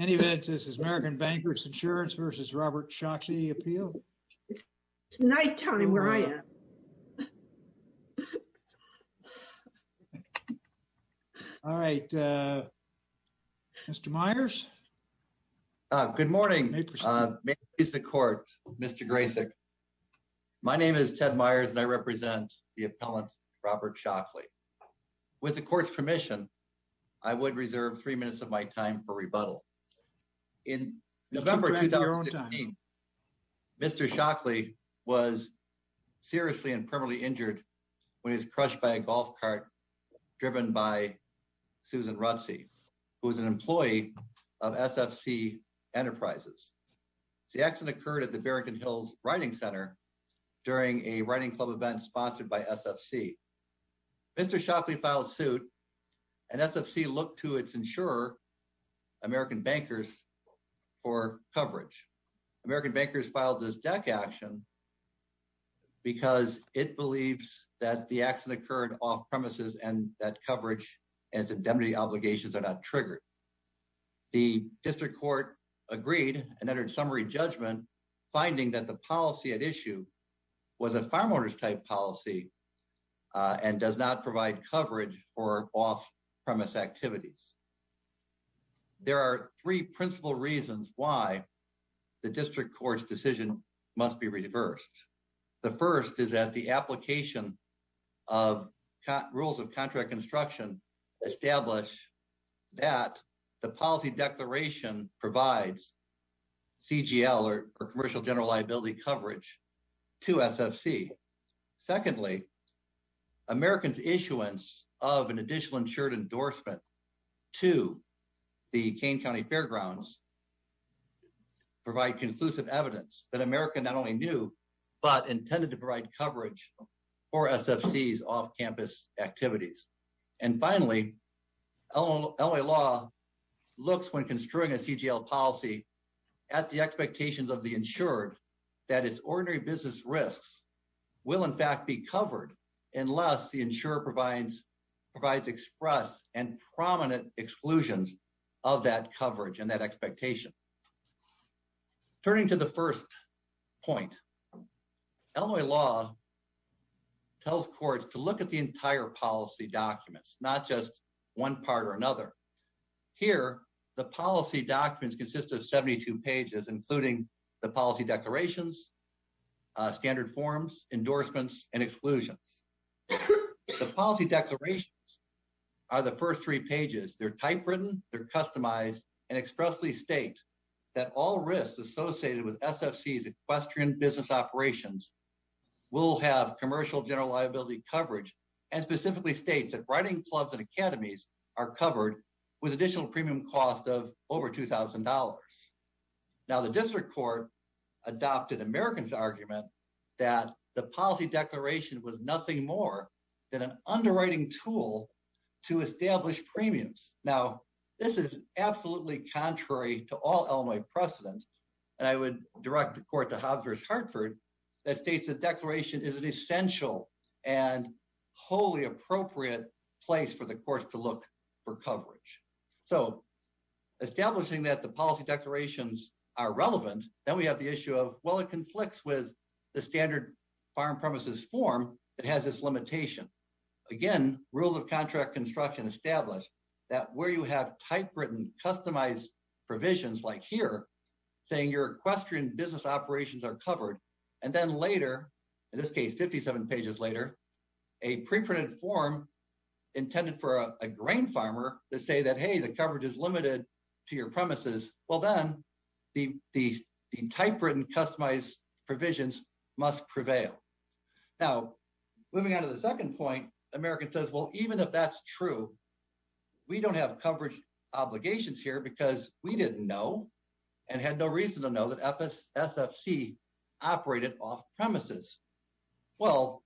Any of this is American Bankers Insurance versus Robert Shockley appeal night telling where I am. All right, Mr. Myers. Good morning. He's the court. Mr. Grayson. My name is Ted Myers and I represent the appellant Robert Shockley with the court's permission. I would reserve three minutes of my time for rebuttal. In November 2016, Mr. Shockley was seriously and permanently injured when he's crushed by a golf cart driven by Susan Roxy who is an employee of SFC Enterprises. The accident occurred at the Bergen Hills Writing Center during a writing club event sponsored by SFC. Mr. Shockley filed suit and SFC looked to its insurer American Bankers for coverage. American Bankers filed this deck action because it believes that the accident occurred off-premises and that coverage and its indemnity obligations are not triggered. The district court agreed and entered summary judgment finding that the policy at issue was a farm owners type policy and does not provide coverage for off-premise activities. There are three principal reasons why the district court's decision must be reversed. The first is that the application of rules of contract construction establish that the policy declaration provides CGL or commercial general liability coverage to SFC. Secondly, Americans issuance of an additional insured endorsement to the Kane County Fairgrounds provide conclusive evidence that America not only knew but intended to provide coverage for SFC's off-campus activities. And finally, LA law looks when construing a CGL policy at the expectations of the insured that its ordinary business risks will in fact be covered unless the insurer provides provides express and prominent exclusions of that coverage and that expectation. Turning to the first point LA law tells courts to look at the entire policy documents, not just one part or another. Here, the policy documents consist of 72 pages including the policy declarations, standard forms, endorsements and exclusions. The policy declarations are the first three pages. They're typewritten, they're customized and expressly state that all risks associated with SFC's equestrian business operations will have commercial general liability coverage and specifically states that riding clubs and academies are covered with additional premium cost of over $2,000. Now the District Court adopted Americans argument that the policy declaration was nothing more than an underwriting tool to establish premiums. Now, this is absolutely contrary to all Illinois precedent and I would direct the court to Hobbs v. Hartford that states the declaration is an essential and wholly appropriate place for the courts to look for coverage. So establishing that the policy declarations are relevant, then we have the issue of, well, it conflicts with the standard farm premises form that has this limitation. Again, rules of contract construction establish that where you have typewritten, customized provisions like here saying your equestrian business operations are covered and then later, in this case, 57 pages later, a pre-printed form intended for a grain farmer to say that, hey, the coverage is limited to your premises. Well, then the typewritten, customized provisions must prevail. Now, moving on to the second point, American says, well, even if that's true, we don't have coverage obligations here because we didn't know and had no reason to know that SFC operated off-premises. Well,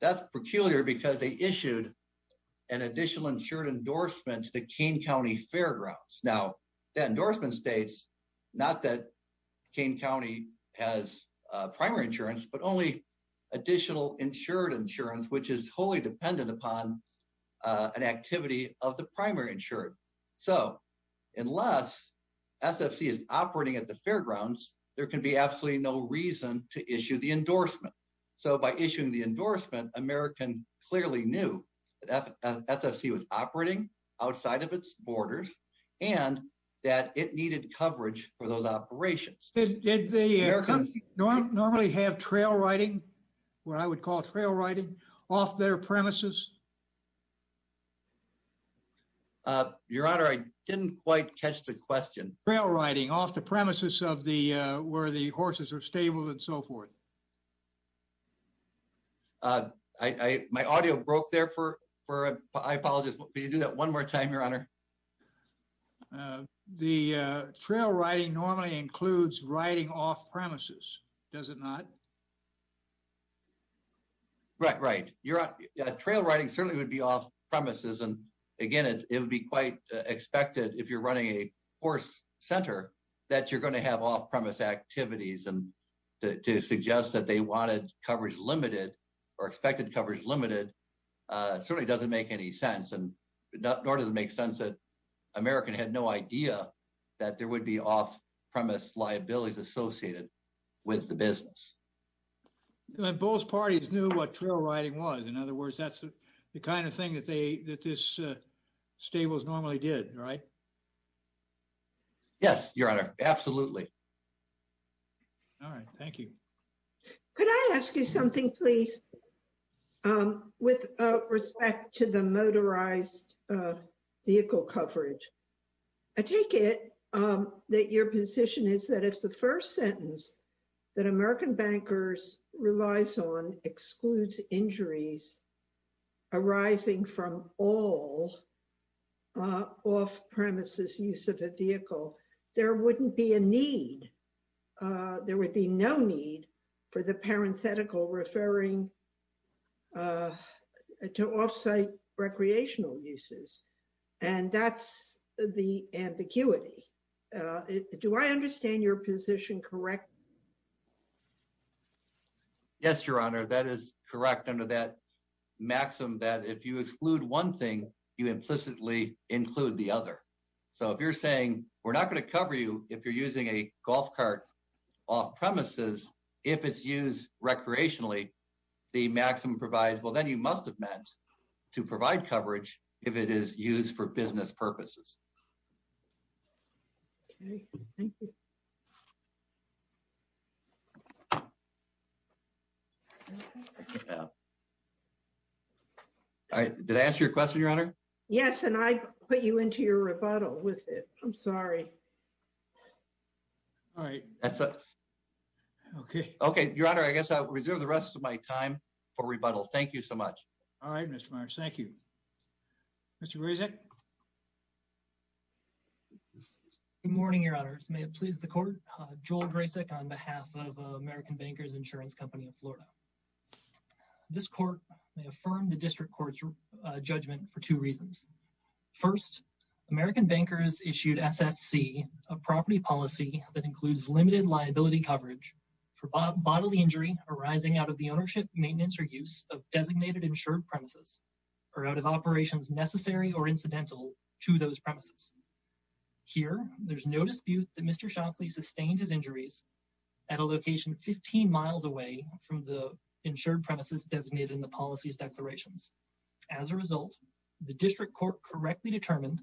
that's peculiar because they issued an additional insured endorsement to the Keene County Fairgrounds. Now, that endorsement states not that Keene County has primary insurance, but only additional insured insurance, which is wholly dependent upon an activity of the primary insured. So, unless SFC is operating at the Fairgrounds, there can be absolutely no reason to issue the endorsement. So by issuing the endorsement, American clearly knew that SFC was operating outside of its borders and that it needed coverage for those operations. Did the Americans normally have trail riding, what I would call trail riding, off their premises? Your Honor, I didn't quite catch the question. Trail riding off the premises of the, where the horses are stabled and so forth. My audio broke there for, I apologize. Will you do that one more time, Your Honor? The trail riding normally includes riding off-premises. Does it not? Right, right. You're right. Trail riding certainly would be off-premises and again, it would be quite expected if you're running a horse center that you're going to have off-premise activities and to suggest that they wanted coverage limited or expected coverage limited certainly doesn't make any sense and nor does it make sense that American had no idea that there would be off-premise liabilities associated with the business. Both parties knew what trail riding was. In other words, that's the kind of thing that they, that this stables normally did, right? Yes, Your Honor. Absolutely. All right. Thank you. Could I ask you something, please? With respect to the motorized vehicle coverage, I take it that your position is that if the first sentence that American Bankers relies on excludes injuries arising from all off-premises use of a vehicle, there wouldn't be a need. There would be no need for the parenthetical referring to off-site recreational uses and that's the ambiguity. Do I understand your position correctly? Yes, Your Honor. That is correct under that maxim that if you exclude one thing, you implicitly include the other. So if you're saying we're not going to cover you if you're using a golf cart off-premises, if it's used recreationally, the maximum provides, well, then you must have meant to provide coverage if it is used for business purposes. Okay. Thank you. Did I answer your question, Your Honor? Yes, and I put you into your rebuttal with it. I'm sorry. All right. Okay. Okay, Your Honor. I guess I'll reserve the rest of my time for rebuttal. Thank you so much. All right, Mr. Marsh. Thank you. Mr. Rasek. Good morning, Your Honor. This may have pleased the court. Joel Drasek on behalf of American Bankers Insurance Company of Florida. This court may affirm the District Court's judgment for two reasons. First, American Bankers issued SFC, a property policy that includes limited liability coverage for bodily injury arising out of the ownership, maintenance, or use of designated insured premises or out of operations necessary or incidental to those premises. Here, there's no dispute that Mr. Shockley sustained his injuries at a location 15 miles away from the insured premises designated in the policies declarations. As a result, the District Court correctly determined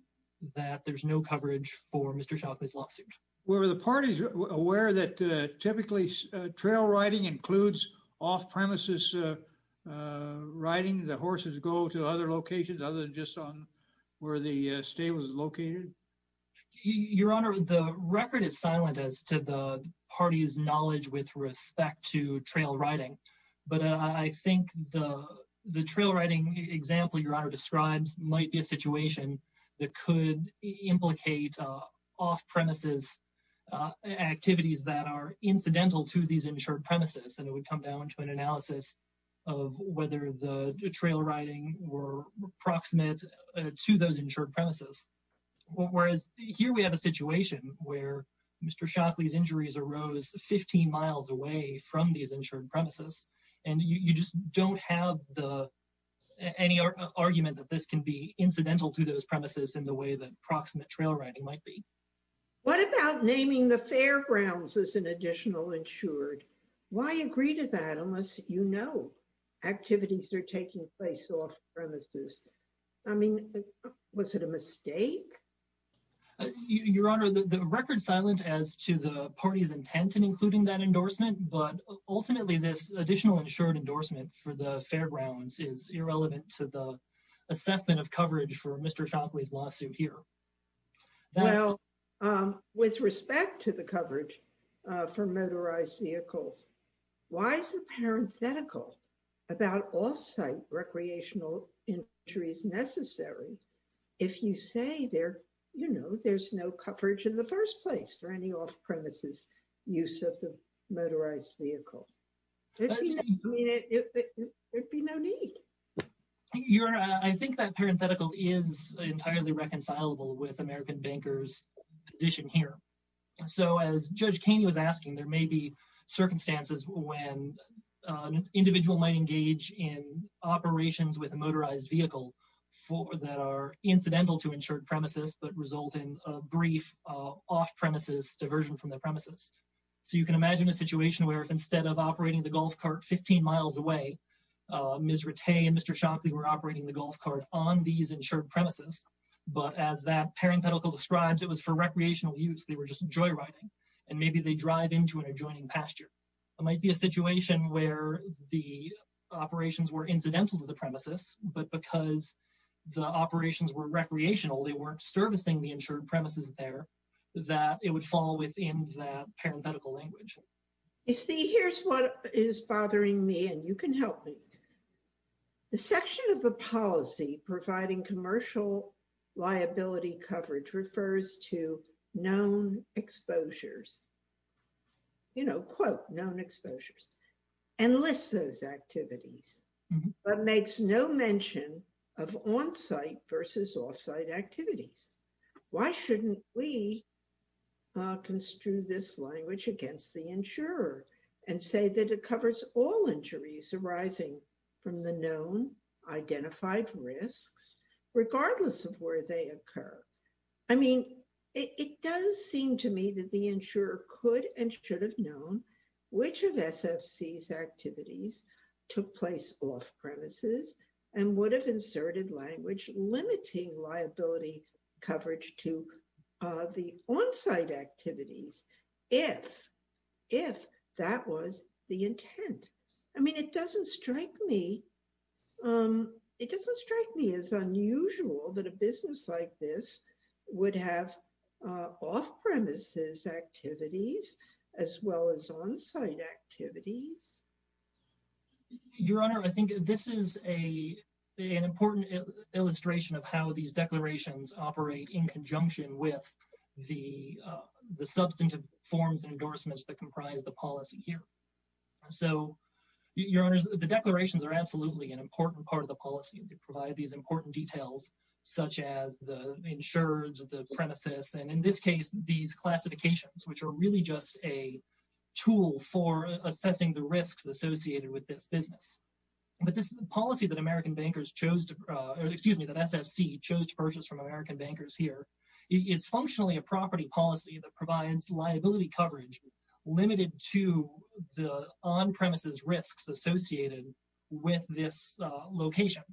that there's no coverage for Mr. Shockley's lawsuit. Were the parties aware that typically trail riding includes off-premises riding the horses go to other locations other than just on where the stable is located? Your Honor, the record is silent as to the party's knowledge with respect to trail riding, but I think the trail riding example, Your Honor describes might be a situation that could implicate off-premises activities that are incidental to these insured premises and it would come down to an analysis of whether the trail riding were proximate to those insured premises. Whereas here, we have a situation where Mr. Shockley's injuries arose 15 miles away from these insured premises and you just don't have the any argument that this can be incidental to those premises in the way that proximate trail riding might be. What about naming the fairgrounds as an additional insured? Why agree to that unless you know activities are taking place off-premises? I mean, was it a mistake? Your Honor, the record silent as to the party's intent in including that endorsement, but ultimately this additional insured endorsement for the fairgrounds is irrelevant to the assessment of coverage for Mr. Shockley's lawsuit here. With respect to the coverage for motorized vehicles, why is the parenthetical about off-site recreational injuries necessary? If you say there, you know, there's no coverage in the first place for any off-premises use of the motorized vehicle. There'd be no need. Your Honor, I think that parenthetical is entirely reconcilable with American Banker's position here. So as Judge Kaney was asking, there may be circumstances when an individual might engage in operations with a motorized vehicle that are incidental to insured premises, but result in a brief off-premises diversion from the premises. So you can imagine a situation where if instead of operating the golf cart 15 miles away, Ms. Rattay and Mr. Shockley were operating the golf cart on these insured premises, but as that parenthetical describes, it was for recreational use. They were just joyriding and maybe they drive into an adjoining pasture. It might be a situation where the operations were incidental to the premises, but because the operations were recreational, they weren't servicing the insured premises there that it would fall within that parenthetical language. You see, here's what is bothering me and you can help me. The section of the policy providing commercial liability coverage refers to known exposures, you know, quote, known exposures and lists those activities, but makes no mention of on-site versus off-site activities. Why shouldn't we construe this language against the insurer and say that it covers all injuries arising from the known identified risks regardless of where they occur? I mean, it does seem to me that the insurer could and should have known which of SFC's activities took place off-premises and would have inserted language limiting liability coverage to the on-site activities. If, if that was the intent. I mean, it doesn't strike me. It doesn't strike me as unusual that a business like this would have off-premises activities as well as on-site activities. Your Honor, I think this is an important illustration of how these declarations operate in conjunction with the substantive forms and endorsements that comprise the policy here. So, Your Honor, the declarations are absolutely an important part of the policy and they provide these important details such as the insurers of the premises. And in this case, these classifications, which are really just a tool for assessing the risks associated with this business. But this policy that American bankers chose to, excuse me, that SFC chose to purchase from American bankers here is functionally a property policy that provides liability coverage limited to the on-premises risks associated with this location.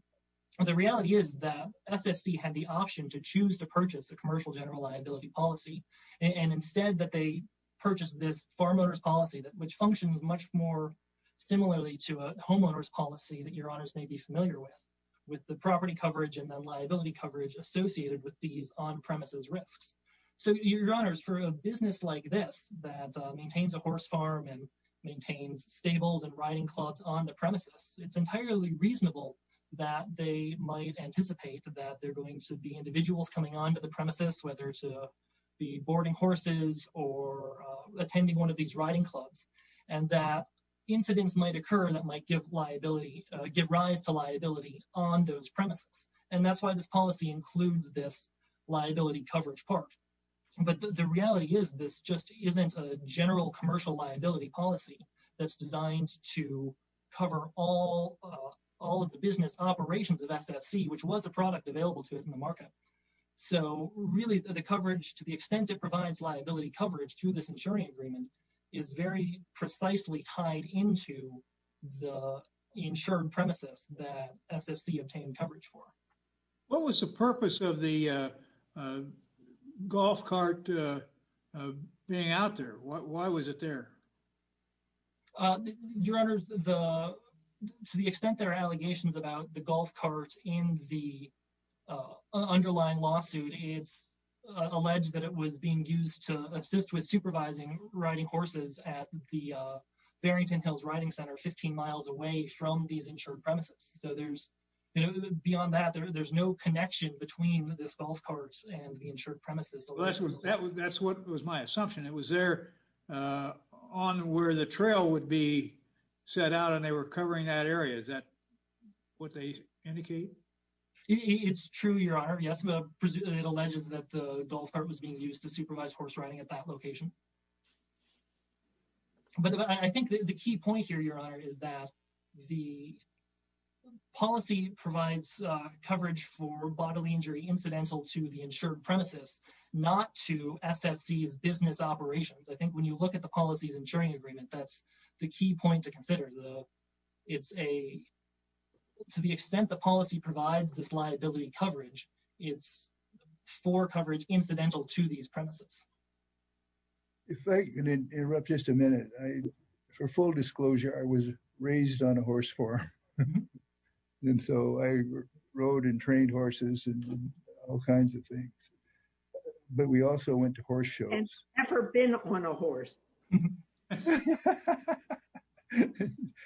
The reality is that SFC had the option to choose to purchase a commercial general liability policy and instead that they purchased this farm owners policy that which functions much more similarly to a homeowner's policy that Your Honors may be familiar with, with the property coverage and the liability coverage associated with these on-premises risks. So Your Honors, for a business like this that maintains a horse farm and maintains stables and riding clubs on the premises, it's entirely reasonable that they might anticipate that they're going to be individuals coming onto the premises whether to be boarding horses or attending one of these riding clubs and that incidents might occur that might give liability, give rise to liability on those premises. And that's why this policy includes this liability coverage part. But the reality is this just isn't a general commercial liability policy that's designed to cover all all of the business operations of SFC, which was a product available to it in the market. So really the coverage to the extent it provides liability coverage to this insuring agreement is very precisely tied into the insured premises that SFC obtained coverage for. What was the purpose of the golf cart being out there? Why was it there? Your Honors, to the extent there are allegations about the golf cart in the underlying lawsuit, it's alleged that it was being used to assist with supervising riding horses at the insured premises. So there's beyond that there's no connection between this golf cart and the insured premises. That's what was my assumption. It was there on where the trail would be set out and they were covering that area. Is that what they indicate? It's true, Your Honor. Yes, it alleges that the golf cart was being used to supervise horse riding at that location. But I think the key point here, Your Honor, is that the policy provides coverage for bodily injury incidental to the insured premises, not to SFC's business operations. I think when you look at the policies insuring agreement, that's the key point to consider. It's a to the extent the policy provides this liability coverage. for coverage incidental to these premises. If I can interrupt just a minute. For full disclosure, I was raised on a horse farm. And so I rode and trained horses and all kinds of things. But we also went to horse shows. I've never been on a horse.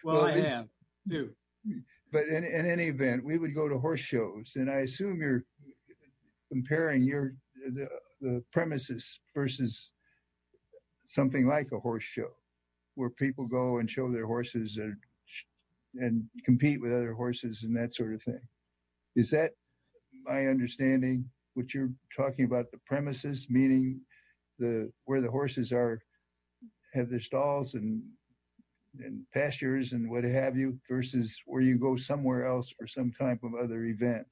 Well, I have too. But in any event, we would go to horse shows and I assume you're comparing your the premises versus something like a horse show. Where people go and show their horses and compete with other horses and that sort of thing. Is that my understanding? What you're talking about the premises, meaning the where the horses are have their stalls and pastures and what have you versus where you go somewhere else for some type of other event.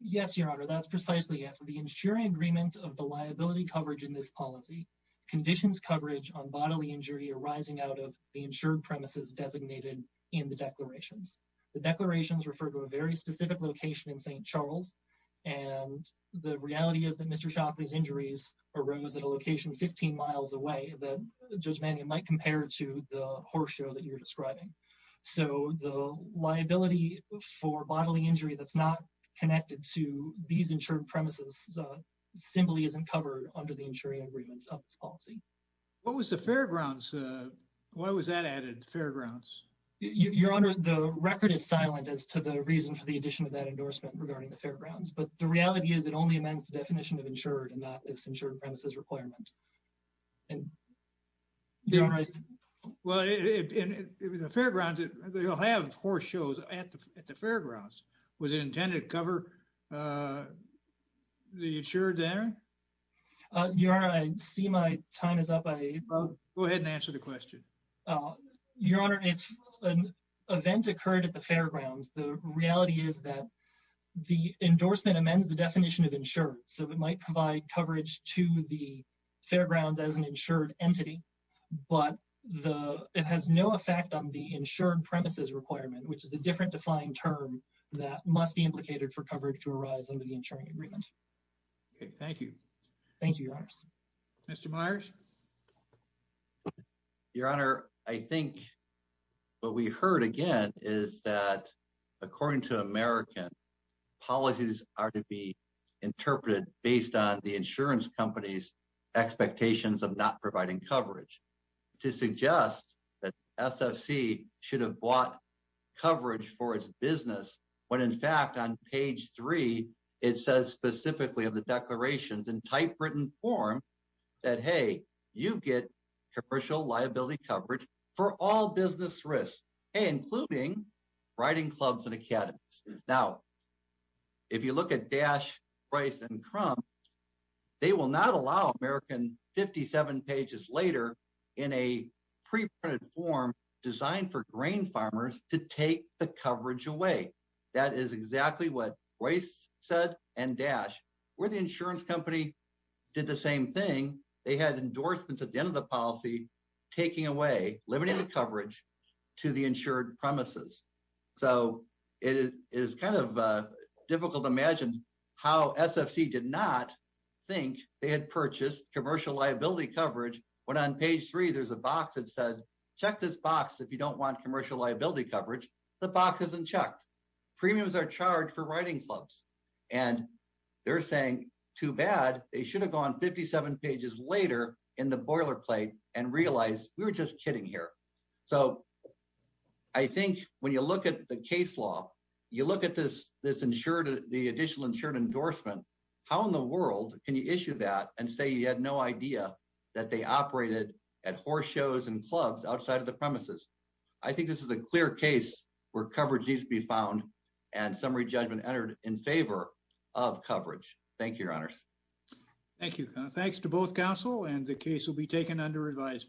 Yes, Your Honor. That's precisely it. The insuring agreement of the liability coverage in this policy conditions coverage on bodily injury arising out of the insured premises designated in the declarations. The declarations refer to a very specific location in St. Charles. And the reality is that Mr. Shockley's injuries arose at a location 15 miles away that Judge Manning might compare to the horse show that you're describing. So the liability for bodily injury that's not connected to these insured premises simply isn't covered under the insuring agreement of this policy. What was the fairgrounds? Why was that added fairgrounds? Your Honor, the record is silent as to the reason for the addition of that endorsement regarding the fairgrounds. But the reality is it only amends the definition of insured and not its insured premises requirement. And Your Honor, I Well, fairgrounds. Was it intended to cover the insured there? Your Honor, I see my time is up. I go ahead and answer the question. Your Honor. It's an event occurred at the fairgrounds. The reality is that the endorsement amends the definition of insured so it might provide coverage to the fairgrounds as an insured entity, but the it has no effect on the insured premises requirement, which is a different defined term that must be implicated for coverage to arise under the insuring agreement. Okay. Thank you. Thank you. Mr. Myers. Your Honor. I think what we heard again is that according to American policies are to be interpreted based on the insurance companies expectations of not providing coverage to suggest that SFC should have bought coverage for its business. When in fact on page three, it says specifically of the declarations in typewritten form that hey, you get commercial liability coverage for all business risks, including riding clubs and Academies. Now, if you look at Dash, Rice and Crumb, they will not allow American 57 pages later in a pre-printed form designed for grain farmers to take the coverage away. That is exactly what Rice said and Dash where the insurance company did the same thing. They had endorsements at the end of the policy taking away limiting the coverage to the insured premises. So it is kind of difficult to imagine how SFC did not think they had purchased commercial liability coverage when on page three, there's a box that said check this box if you don't want commercial liability coverage, the box isn't checked. Premiums are charged for riding clubs and they're saying too bad. They should have gone 57 pages later in the boilerplate and realize we were just kidding here. So I think when you look at the case law, you look at this this insured the additional insured endorsement. How in the world can you issue that and say you had no idea that they operated at horse shows and clubs outside of the premises. I think this is a clear case where coverage needs to be found and summary judgment entered in favor of coverage. Thank you, Your Honors. Thank you. Thanks to both Council and the case will be taken under advisement.